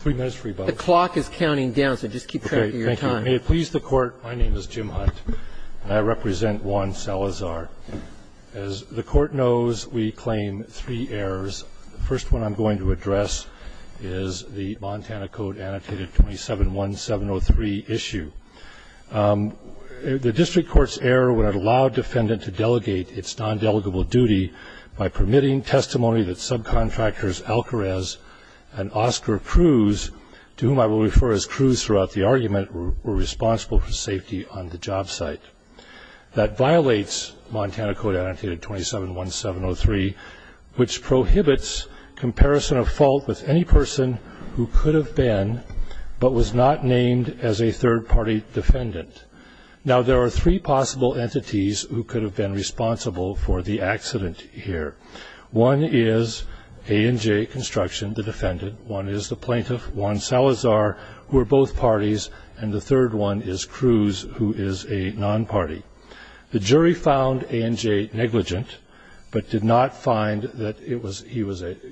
Three minutes for you, Bob. The clock is counting down, so just keep track of your time. Okay. Thank you. May it please the Court, my name is Jim Hunt, and I represent Juan Salazar. As the Court knows, we claim three errors. The first one I'm going to address is the Montana Code Annotated 271703 issue. The district court's error would have allowed defendant to delegate its nondelegable duty by permitting testimony that subcontractors Alcarez and Oscar Cruz, to whom I will refer as Cruz throughout the argument, were responsible for safety on the job site. That violates Montana Code Annotated 271703, which prohibits comparison of fault with any person who could have been, but was not named as a third-party defendant. Now, there are three possible entities who could have been responsible for the accident here. One is A&J Construction, the defendant. One is the plaintiff, Juan Salazar, who are both parties, and the third one is Cruz, who is a non-party. The jury found A&J negligent, but did not find that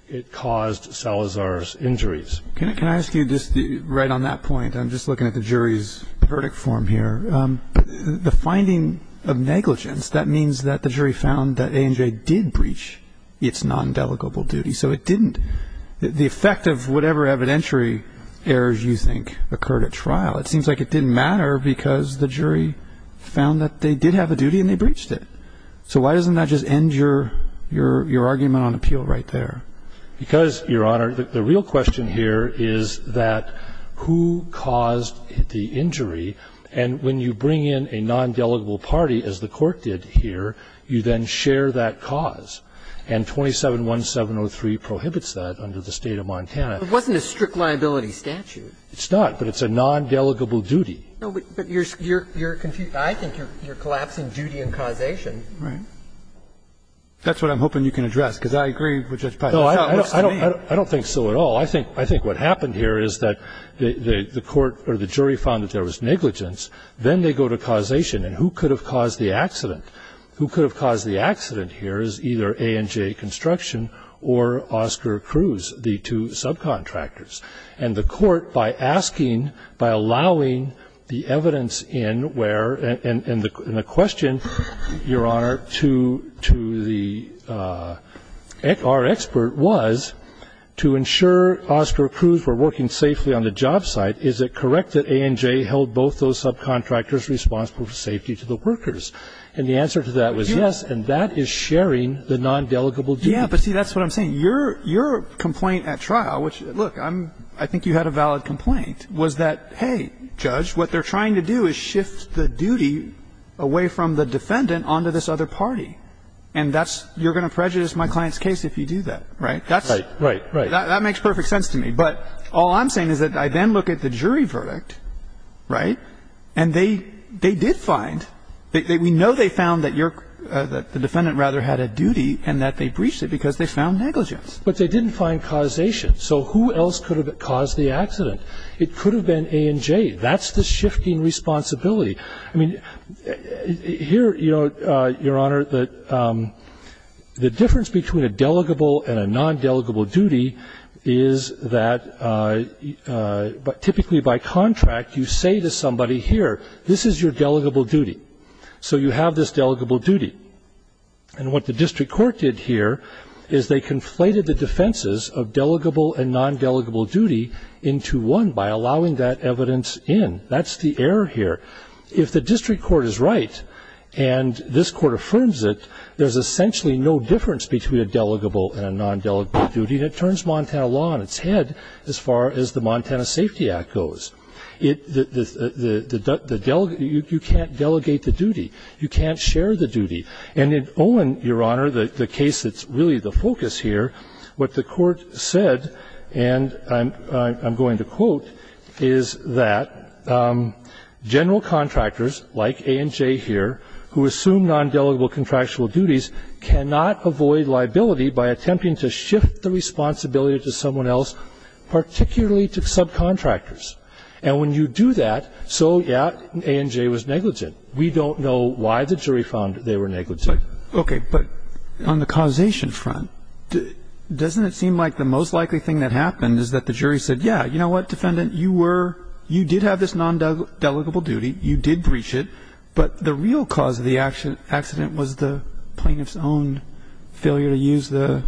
it caused Salazar's injuries. Can I ask you this right on that point? I'm just looking at the jury's verdict form here. The finding of negligence, that means that the jury found that A&J did breach its nondelegable duty. So it didn't. The effect of whatever evidentiary errors you think occurred at trial, it seems like it didn't matter because the jury found that they did have a duty and they breached it. So why doesn't that just end your argument on appeal right there? Because, Your Honor, the real question here is that who caused the injury, and when you bring in a nondelegable party, as the Court did here, you then share that cause, and 27-1703 prohibits that under the State of Montana. It wasn't a strict liability statute. It's not, but it's a nondelegable duty. But you're confused. I think you're collapsing duty and causation. Right. That's what I'm hoping you can address, because I agree with Judge Pyle. No, I don't think so at all. I think what happened here is that the court or the jury found that there was negligence. Then they go to causation, and who could have caused the accident? Who could have caused the accident here is either A&J Construction or Oscar Cruz, the two subcontractors, and the Court, by asking, by allowing the evidence in where and the question, Your Honor, to the expert was to ensure Oscar Cruz were working safely on the job site, is it correct that A&J held both those subcontractors responsible for safety to the workers? And the answer to that was yes, and that is sharing the nondelegable duty. Yeah, but see, that's what I'm saying. Your complaint at trial, which, look, I think you had a valid complaint, was that, and you're going to prejudice my client's case if you do that, right? Right. Right. Right. That makes perfect sense to me. But all I'm saying is that I then look at the jury verdict, right, and they did find that we know they found that your the defendant rather had a duty and that they breached it because they found negligence. But they didn't find causation. It could have been Oscar Cruz. It could have been Oscar Cruz. It could have been A&J. That's the shifting responsibility. I mean, here, you know, Your Honor, the difference between a delegable and a nondelegable duty is that typically by contract you say to somebody here, this is your delegable duty, so you have this delegable duty. And what the district court did here is they conflated the defenses of delegable and nondelegable duty into one by allowing that evidence in. That's the error here. If the district court is right and this court affirms it, there's essentially no difference between a delegable and a nondelegable duty, and it turns Montana law on its head as far as the Montana Safety Act goes. You can't delegate the duty. You can't share the duty. And in Owen, Your Honor, the case that's really the focus here, what the court said, and I'm going to quote, is that general contractors like A&J here who assume nondelegable contractual duties cannot avoid liability by attempting to shift the responsibility to someone else, particularly to subcontractors. And when you do that, so, yeah, A&J was negligent. We don't know why the jury found they were negligent. But, okay, but on the causation front, doesn't it seem like the most likely thing that happened is that the jury said, yeah, you know what, defendant, you were, you did have this nondelegable duty, you did breach it, but the real cause of the accident was the plaintiff's own failure to use the,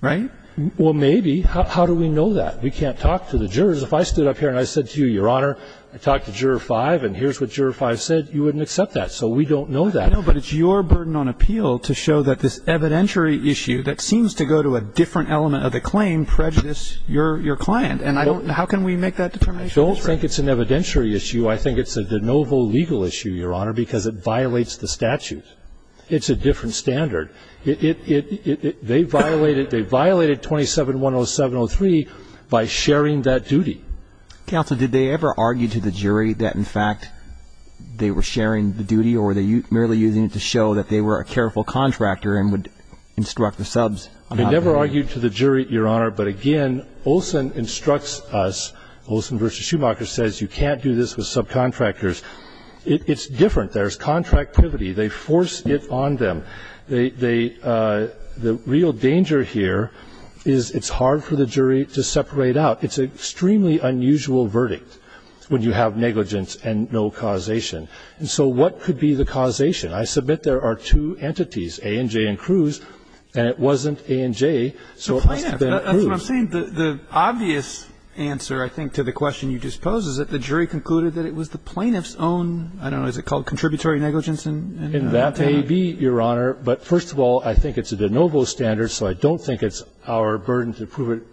right? Well, maybe. How do we know that? We can't talk to the jurors. If I stood up here and I said to you, Your Honor, I talked to Juror 5 and here's what Juror 5 said, you wouldn't accept that. So we don't know that. I know, but it's your burden on appeal to show that this evidentiary issue that seems to go to a different element of the claim prejudiced your client. And I don't, how can we make that determination? I don't think it's an evidentiary issue. I think it's a de novo legal issue, Your Honor, because it violates the statute. It's a different standard. It, it, it, they violated, they violated 27-107-03 by sharing that duty. Counsel, did they ever argue to the jury that, in fact, they were sharing the duty or were they merely using it to show that they were a careful contractor and would instruct the subs? They never argued to the jury, Your Honor. But, again, Olson instructs us, Olson v. Schumacher says you can't do this with subcontractors. It's different. There's contractivity. They force it on them. They, they, the real danger here is it's hard for the jury to separate out. It's an extremely unusual verdict when you have negligence and no causation. And so what could be the causation? I submit there are two entities, A and J and Cruz, and it wasn't A and J, so it must have been Cruz. That's what I'm saying. The, the obvious answer, I think, to the question you just posed is that the jury concluded that it was the plaintiff's own, I don't know, is it called contributory negligence? In that may be, Your Honor. But, first of all, I think it's a de novo standard, so I don't think it's our burden to prove it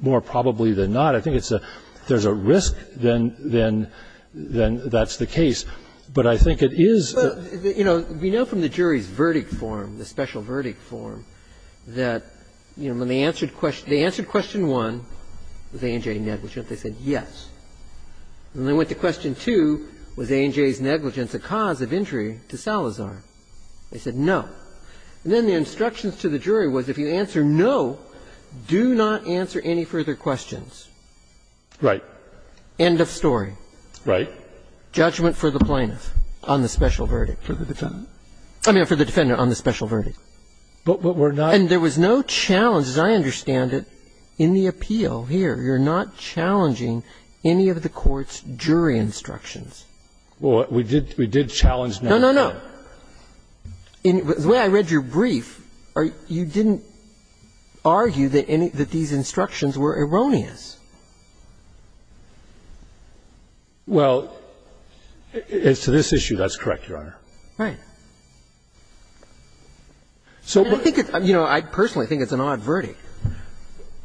more probably than not. But I think it's a, if there's a risk, then, then, then that's the case. But I think it is the. But, you know, we know from the jury's verdict form, the special verdict form, that, you know, when they answered question, they answered question 1, was A and J negligent? They said yes. When they went to question 2, was A and J's negligence a cause of injury to Salazar? They said no. And then the instructions to the jury was if you answer no, do not answer any further questions. Right. End of story. Right. Judgment for the plaintiff on the special verdict. For the defendant. I mean, for the defendant on the special verdict. But we're not. And there was no challenge, as I understand it, in the appeal here. You're not challenging any of the court's jury instructions. Well, we did challenge none of them. No, no, no. The way I read your brief, you didn't argue that any of these instructions were erroneous. Well, as to this issue, that's correct, Your Honor. Right. I think it's, you know, I personally think it's an odd verdict.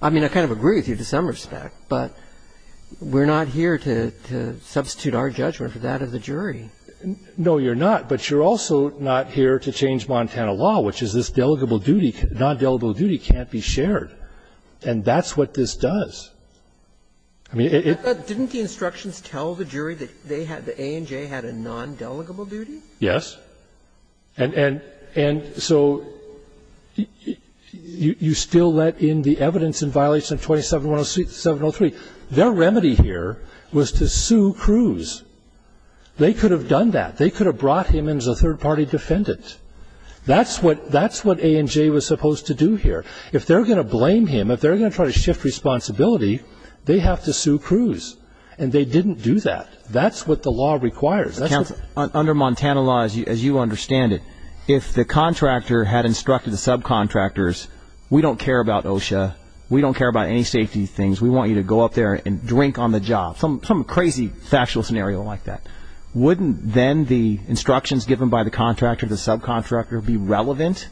I mean, I kind of agree with you to some respect, but we're not here to substitute our judgment for that of the jury. No, you're not. But you're also not here to change Montana law, which is this delegable duty, non-delegable duty can't be shared. And that's what this does. I mean, it's not. Didn't the instructions tell the jury that they had, that A&J had a non-delegable duty? Yes. And so you still let in the evidence in violation of 27-103. Their remedy here was to sue Cruz. They could have done that. They could have brought him in as a third-party defendant. That's what A&J was supposed to do here. If they're going to blame him, if they're going to try to shift responsibility, they have to sue Cruz. And they didn't do that. That's what the law requires. Under Montana law, as you understand it, if the contractor had instructed the subcontractors, we don't care about OSHA. We don't care about any safety things. We want you to go up there and drink on the job. Some crazy factual scenario like that. Wouldn't then the instructions given by the contractor, the subcontractor, be relevant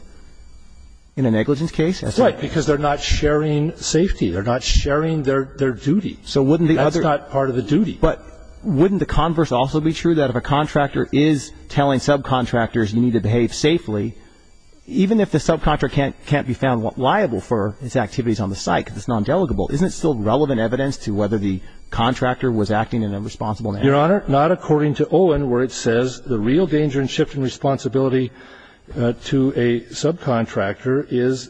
in a negligence case? That's right, because they're not sharing safety. They're not sharing their duty. That's not part of the duty. But wouldn't the converse also be true? That if a contractor is telling subcontractors you need to behave safely, even if the subcontractor can't be found liable for his activities on the site because it's non-delegable, isn't it still relevant evidence to whether the contractor was acting in a responsible manner? Your Honor, not according to Owen, where it says the real danger in shifting responsibility to a subcontractor is,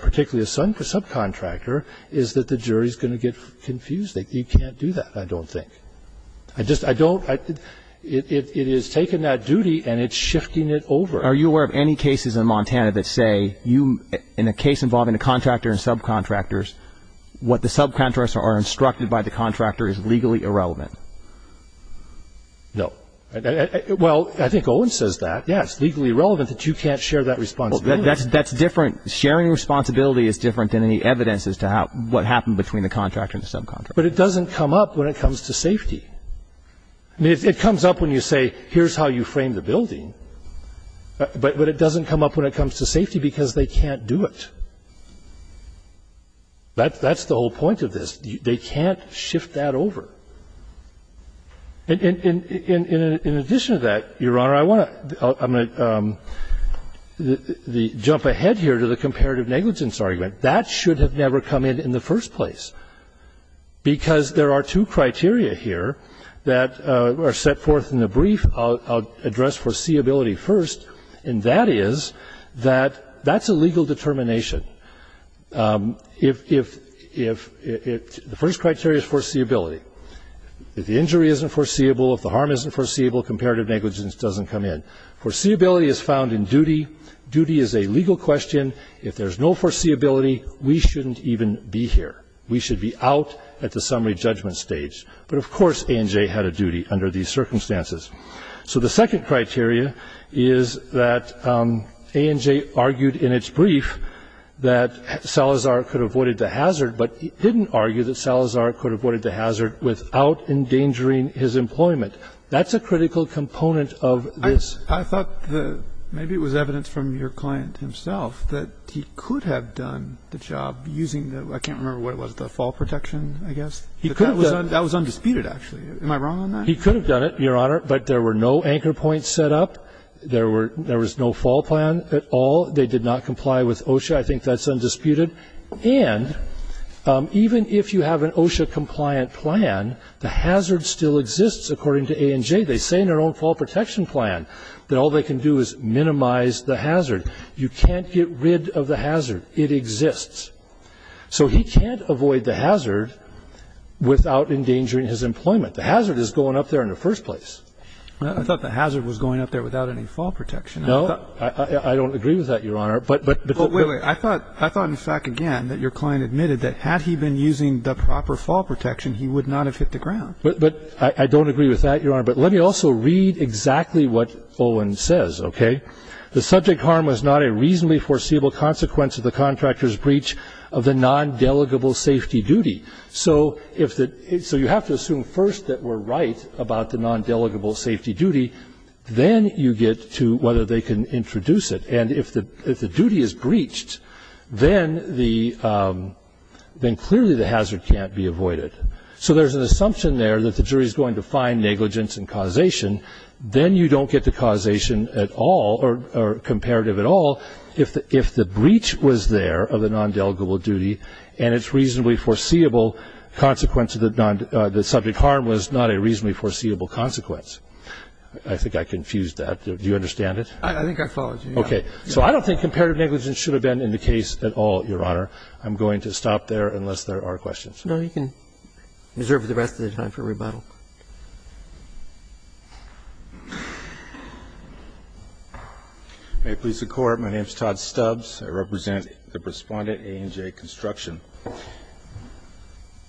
particularly a subcontractor, is that the jury's going to get confused. You can't do that, I don't think. I just don't. It is taking that duty and it's shifting it over. Are you aware of any cases in Montana that say you, in a case involving a contractor and subcontractors, what the subcontractors are instructed by the contractor is legally irrelevant? No. Well, I think Owen says that. Yes, it's legally relevant that you can't share that responsibility. That's different. Sharing responsibility is different than any evidence as to what happened between the contractor and the subcontractor. But it doesn't come up when it comes to safety. I mean, it comes up when you say, here's how you frame the building. But it doesn't come up when it comes to safety because they can't do it. That's the whole point of this. They can't shift that over. In addition to that, Your Honor, I want to jump ahead here to the comparative negligence argument. That should have never come in in the first place because there are two criteria here that are set forth in the brief. I'll address foreseeability first. And that is that that's a legal determination. The first criteria is foreseeability. If the injury isn't foreseeable, if the harm isn't foreseeable, comparative negligence doesn't come in. Foreseeability is found in duty. Duty is a legal question. If there's no foreseeability, we shouldn't even be here. We should be out at the summary judgment stage. But, of course, ANJ had a duty under these circumstances. So the second criteria is that ANJ argued in its brief that Salazar could have avoided the hazard, but didn't argue that Salazar could have avoided the hazard without endangering his employment. That's a critical component of this. I thought that maybe it was evidence from your client himself that he could have done the job using the ‑‑ I can't remember what it was, the fall protection, I guess. He could have done it. That was undisputed, actually. Am I wrong on that? He could have done it, Your Honor, but there were no anchor points set up. There was no fall plan at all. They did not comply with OSHA. I think that's undisputed. And even if you have an OSHA-compliant plan, the hazard still exists, according to ANJ. They say in their own fall protection plan that all they can do is minimize the hazard. You can't get rid of the hazard. It exists. So he can't avoid the hazard without endangering his employment. The hazard is going up there in the first place. I thought the hazard was going up there without any fall protection. No. I don't agree with that, Your Honor. But ‑‑ Wait, wait. I thought in fact, again, that your client admitted that had he been using the proper fall protection, he would not have hit the ground. But I don't agree with that, Your Honor. But let me also read exactly what Olin says, okay? The subject harm was not a reasonably foreseeable consequence of the contractor's breach of the non‑delegable safety duty. So you have to assume first that we're right about the non‑delegable safety duty. Then you get to whether they can introduce it. And if the duty is breached, then clearly the hazard can't be avoided. So there's an assumption there that the jury is going to find negligence and causation. Then you don't get the causation at all or comparative at all if the breach was there of the non‑delegable duty and its reasonably foreseeable consequence of the non ‑‑ the subject harm was not a reasonably foreseeable consequence. I think I confused that. Do you understand it? I think I followed you. Okay. So I don't think comparative negligence should have been in the case at all, Your Honor. I'm going to stop there unless there are questions. No, you can reserve the rest of the time for rebuttal. Hi, police and court. My name is Todd Stubbs. I represent the Respondent A&J Construction.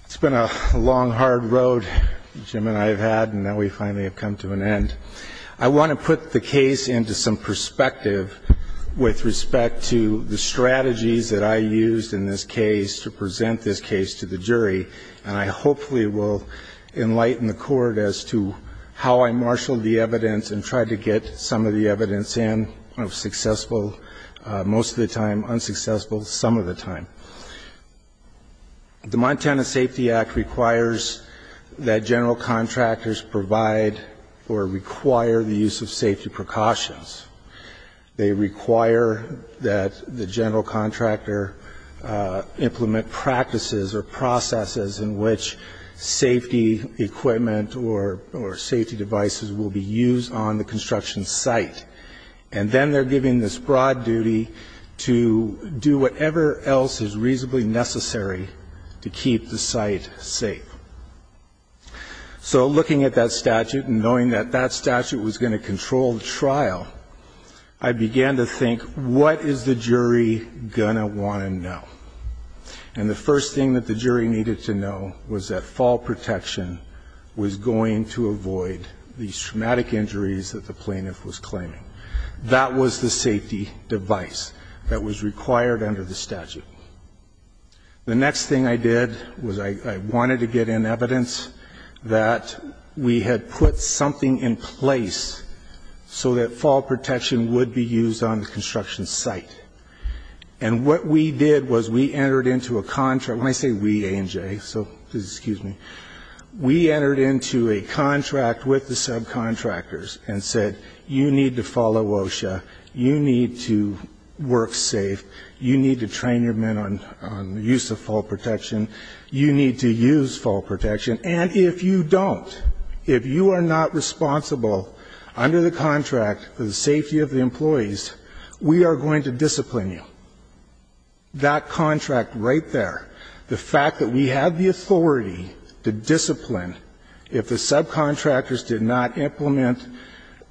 It's been a long, hard road Jim and I have had, and now we finally have come to an end. I want to put the case into some perspective with respect to the strategies and I hopefully will enlighten the court as to how I marshaled the evidence and tried to get some of the evidence in. I was successful most of the time, unsuccessful some of the time. The Montana Safety Act requires that general contractors provide or require the use of safety precautions. They require that the general contractor implement practices or processes in which safety equipment or safety devices will be used on the construction site. And then they're given this broad duty to do whatever else is reasonably necessary to keep the site safe. So looking at that statute and knowing that that statute was going to control the trial, I began to think, what is the jury going to want to know? And the first thing that the jury needed to know was that fall protection was going to avoid these traumatic injuries that the plaintiff was claiming. That was the safety device that was required under the statute. The next thing I did was I wanted to get in evidence that we had put something in place so that fall protection would be used on the construction site. And what we did was we entered into a contract, when I say we, A&J, so please excuse me, we entered into a contract with the subcontractors and said, you need to follow OSHA, you need to work safe, you need to train your men on the use of fall protection, you need to use fall protection, and if you don't, if you are not responsible under the contract for the safety of the employees, we are going to discipline you. That contract right there, the fact that we have the authority to discipline, if the subcontractors did not implement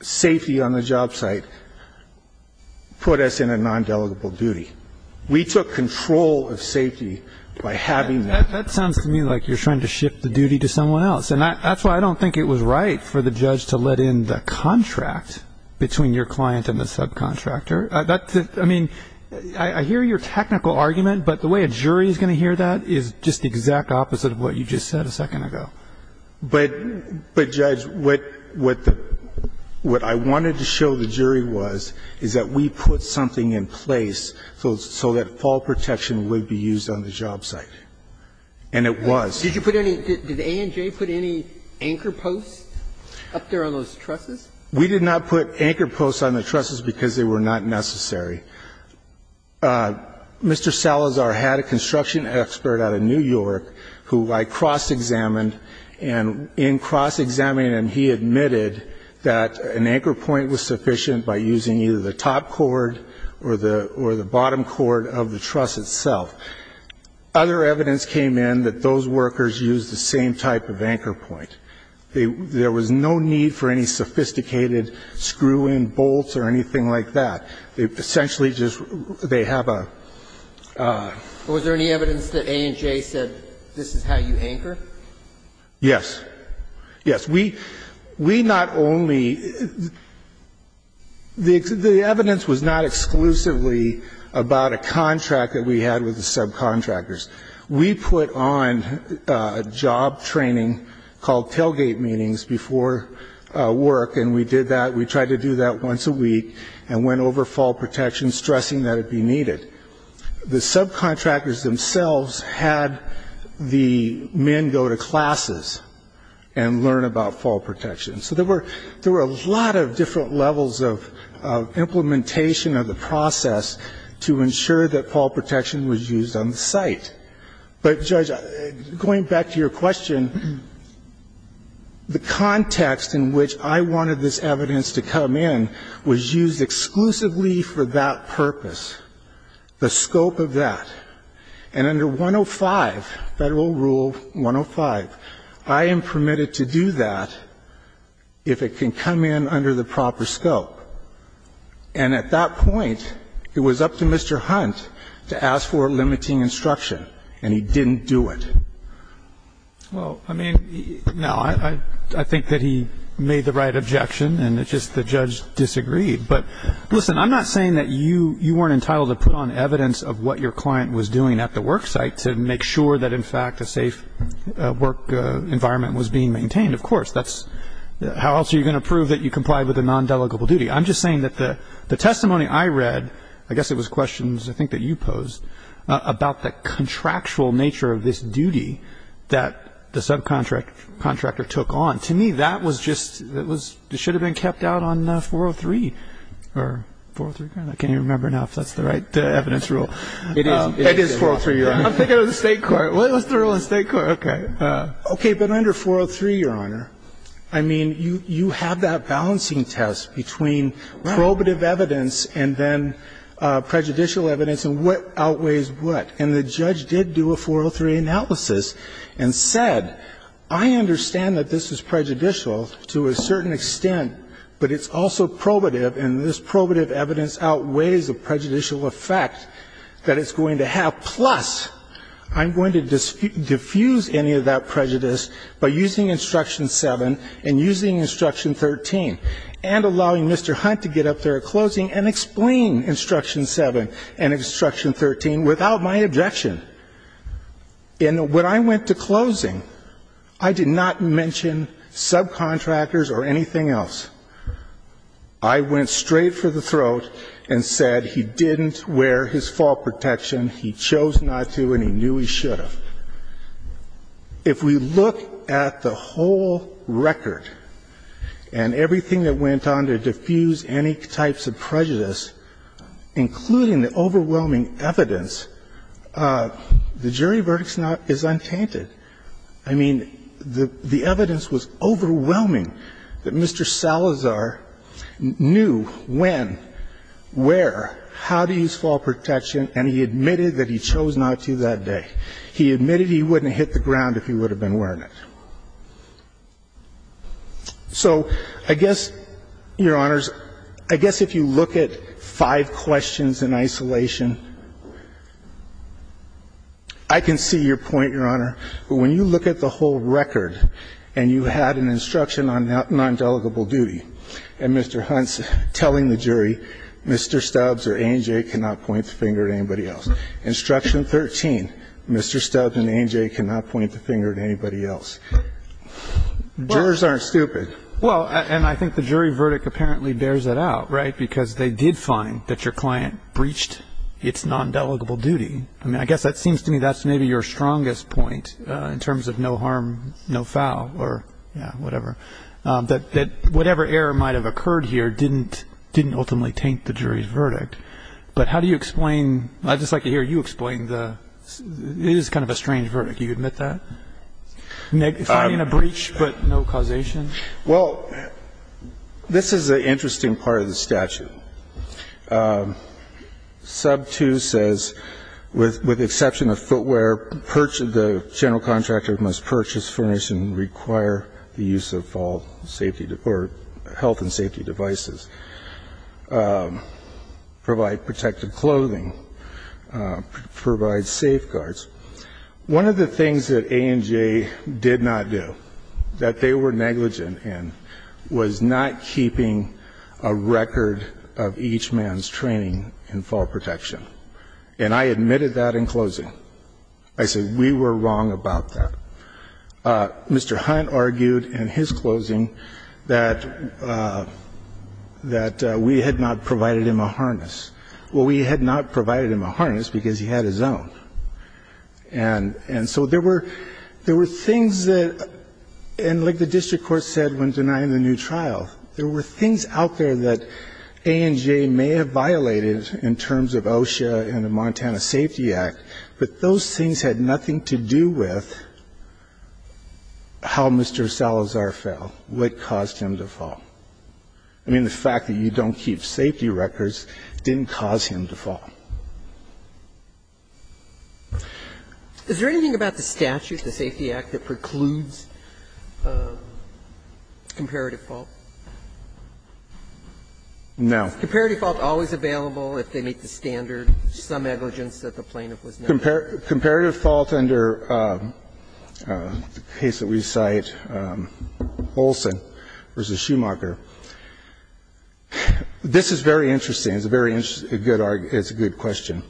safety on the job site, put us in a nondelegable duty. We took control of safety by having that. That sounds to me like you're trying to shift the duty to someone else. And that's why I don't think it was right for the judge to let in the contract between your client and the subcontractor. I mean, I hear your technical argument, but the way a jury is going to hear that is just the exact opposite of what you just said a second ago. But, Judge, what I wanted to show the jury was, is that we put something in place so that fall protection would be used on the job site, and it was. Did you put any, did A&J put any anchor posts up there on those trusses? We did not put anchor posts on the trusses because they were not necessary. Mr. Salazar had a construction expert out of New York who I cross-examined and in cross-examining him he admitted that an anchor point was sufficient by using either the top cord or the bottom cord of the truss itself. Other evidence came in that those workers used the same type of anchor point. There was no need for any sophisticated screw-in bolts or anything like that. They essentially just, they have a. Was there any evidence that A&J said this is how you anchor? Yes. Yes. We, we not only, the evidence was not exclusively about a contract that we had with the subcontractors. We put on a job training called tailgate meetings before work, and we did that, we tried to do that once a week and went over fall protection, stressing that it be needed. The subcontractors themselves had the men go to classes and learn about fall protection. So there were, there were a lot of different levels of implementation of the process to ensure that fall protection was used on the site. But, Judge, going back to your question, the context in which I wanted this evidence to come in was used exclusively for that purpose, the scope of that. And under 105, Federal Rule 105, I am permitted to do that if it can come in under the proper scope. And at that point, it was up to Mr. Hunt to ask for limiting instruction. And he didn't do it. Well, I mean, no. I think that he made the right objection, and it's just the judge disagreed. But, listen, I'm not saying that you weren't entitled to put on evidence of what your client was doing at the work site to make sure that, in fact, a safe work environment was being maintained. Of course, that's, how else are you going to prove that you complied with a nondelegable duty? I'm just saying that the testimony I read, I guess it was questions I think that you posed about the contractual nature of this duty that the subcontractor took on. To me, that was just, it should have been kept out on 403, or 403, I can't even remember now if that's the right evidence rule. It is 403, Your Honor. I'm thinking of the State court. What was the rule in the State court? Okay. Okay, but under 403, Your Honor, I mean, you have that balancing test between probative evidence and then prejudicial evidence. And what outweighs what? And the judge did do a 403 analysis and said, I understand that this is prejudicial to a certain extent, but it's also probative, and this probative evidence outweighs the prejudicial effect that it's going to have. Plus, I'm going to diffuse any of that prejudice by using Instruction 7 and using Instruction 13, and allowing Mr. Hunt to get up there at closing and explain Instruction 7 and Instruction 13 without my objection. And when I went to closing, I did not mention subcontractors or anything else. I went straight for the throat and said he didn't wear his fault protection, he chose not to, and he knew he should have. If we look at the whole record and everything that went on to diffuse any types of prejudice, including the overwhelming evidence, the jury verdict is not untainted. I mean, the evidence was overwhelming that Mr. Salazar knew when, where, how to use fault protection, and he admitted that he chose not to that day. He admitted he wouldn't have hit the ground if he would have been wearing it. So I guess, Your Honors, I guess if you look at five questions in isolation, I can see your point, Your Honor, but when you look at the whole record and you had an instruction on non-delegable duty, and Mr. Hunt's telling the jury, Mr. Stubbs or A&J cannot point the finger at anybody else, Instruction 13, Mr. Stubbs and A&J cannot point the finger at anybody else. Jurors aren't stupid. Well, and I think the jury verdict apparently bears it out, right, because they did find that your client breached its non-delegable duty. I mean, I guess that seems to me that's maybe your strongest point in terms of no harm, no foul or whatever, that whatever error might have occurred here didn't ultimately taint the jury's verdict. But how do you explain, I'd just like to hear you explain the, it is kind of a strange verdict. Do you admit that? Finding a breach but no causation? Well, this is the interesting part of the statute. Sub 2 says, with the exception of footwear, the general contractor must purchase, furnish and require the use of all safety or health and safety devices. Provide protective clothing. Provide safeguards. One of the things that A&J did not do, that they were negligent in, was not keeping a record of each man's training in fall protection. And I admitted that in closing. I said we were wrong about that. Mr. Hunt argued in his closing that we had not provided him a harness. Well, we had not provided him a harness because he had his own. And so there were things that, and like the district court said when denying the new trial, there were things out there that A&J may have violated in terms of OSHA and the Montana Safety Act. But those things had nothing to do with how Mr. Salazar fell, what caused him to fall. I mean, the fact that you don't keep safety records didn't cause him to fall. Is there anything about the statute, the Safety Act, that precludes comparative fault? No. Comparative fault always available if they meet the standard, some negligence that the plaintiff was negligent. Comparative fault under the case that we cite, Olson v. Schumacher. This is very interesting. It's a very good question.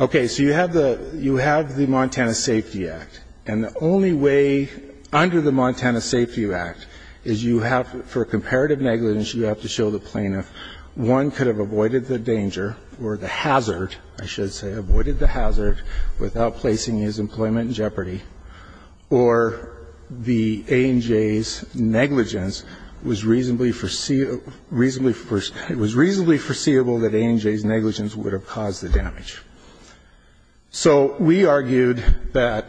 Okay. So you have the Montana Safety Act. And the only way under the Montana Safety Act is you have, for comparative negligence, you have to show the plaintiff, one could have avoided the danger or the hazard, I should say, avoided the hazard without placing his employment in jeopardy, or the A&J's negligence was reasonably foreseeable that A&J's negligence would have caused the damage. So we argued that,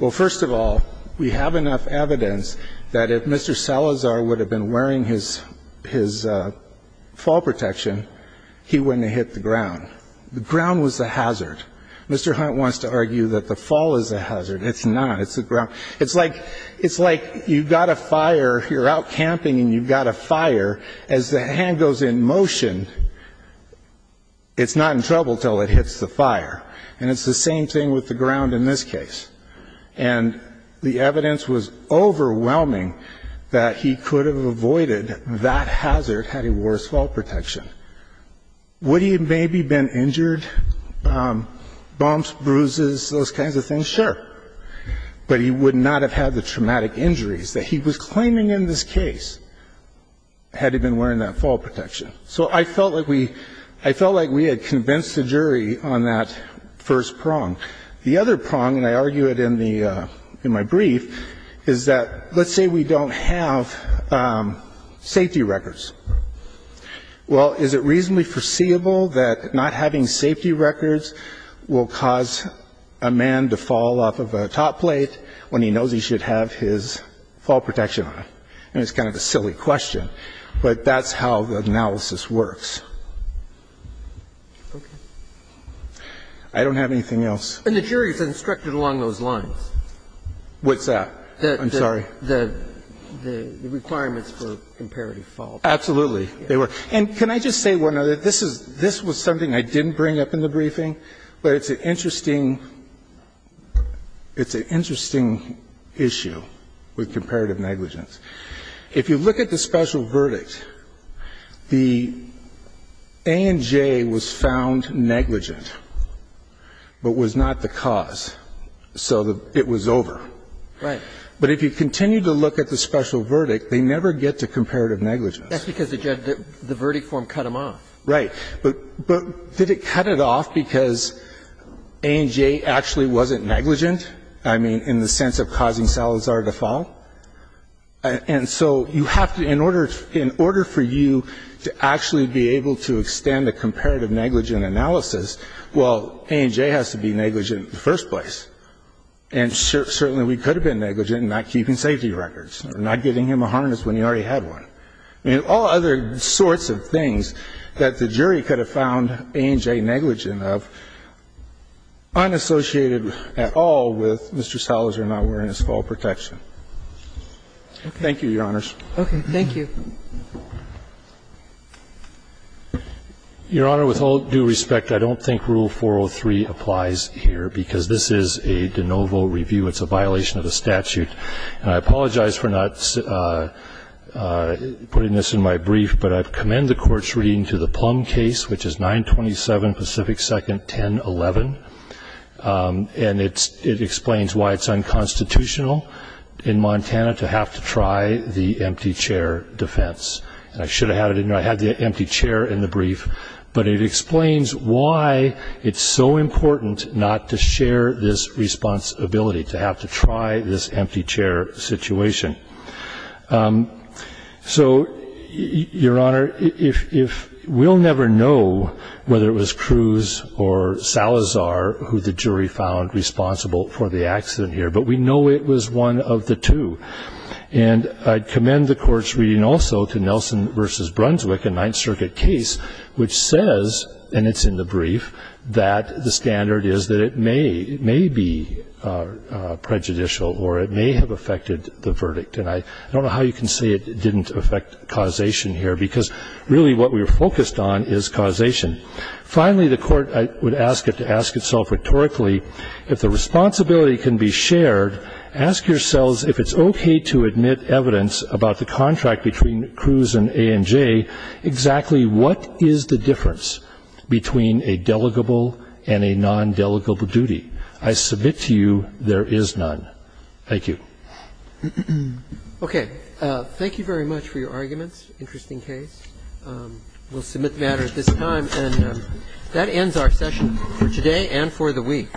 well, first of all, we have enough evidence that if Mr. Salazar would have been wearing his fall protection, he wouldn't have hit the ground. The ground was the hazard. Mr. Hunt wants to argue that the fall is the hazard. It's not. It's the ground. It's like you've got a fire, you're out camping and you've got a fire. As the hand goes in motion, it's not in trouble until it hits the fire. And it's the same thing with the ground in this case. And the evidence was overwhelming that he could have avoided that hazard had he wore his fall protection. Would he have maybe been injured, bumps, bruises, those kinds of things? Sure. But he would not have had the traumatic injuries that he was claiming in this case had he been wearing that fall protection. So I felt like we had convinced the jury on that first prong. The other prong, and I argue it in my brief, is that let's say we don't have safety records. Well, is it reasonably foreseeable that not having safety records will cause a man to fall off of a top plate when he knows he should have his fall protection on? And it's kind of a silly question. But that's how the analysis works. I don't have anything else. And the jury is instructed along those lines. What's that? I'm sorry. The requirements for comparative fall. Absolutely. And can I just say one other thing? This was something I didn't bring up in the briefing. But it's an interesting issue with comparative negligence. If you look at the special verdict, the A and J was found negligent, but was not the cause, so it was over. Right. But if you continue to look at the special verdict, they never get to comparative negligence. That's because the verdict form cut them off. Right. But did it cut it off because A and J actually wasn't negligent? I mean, in the sense of causing Salazar to fall? And so you have to, in order for you to actually be able to extend a comparative negligent analysis, well, A and J has to be negligent in the first place. And certainly we could have been negligent in not keeping safety records or not giving him a harness when he already had one. I mean, all other sorts of things that the jury could have found A and J negligent of, unassociated at all with Mr. Salazar not wearing his fall protection. Thank you, Your Honors. Okay. Thank you. Your Honor, with all due respect, I don't think Rule 403 applies here, because this is a de novo review. It's a violation of the statute. And I apologize for not putting this in my brief, but I commend the Court's reading to the Plum case, which is 927 Pacific 2nd 1011. And it explains why it's unconstitutional in Montana to have to try the empty chair defense. And I should have had it in there. I had the empty chair in the brief. But it explains why it's so important not to share this responsibility, to have to try this empty chair situation. So, Your Honor, we'll never know whether it was Cruz or Salazar who the jury found responsible for the accident here. But we know it was one of the two. And I commend the Court's reading also to Nelson v. Brunswick, a Ninth Circuit case, which says, and it's in the brief, that the standard is that it may be prejudicial or it may have affected the verdict. And I don't know how you can say it didn't affect causation here, because really what we were focused on is causation. Finally, the Court, I would ask it to ask itself rhetorically, if the responsibility can be shared, ask yourselves if it's okay to admit evidence about the contract between Cruz and A&J, exactly what is the difference between a delegable and a non-delegable duty. I submit to you there is none. Thank you. Roberts. Okay. Thank you very much for your arguments. Interesting case. We'll submit the matter at this time. And that ends our session for today and for the week.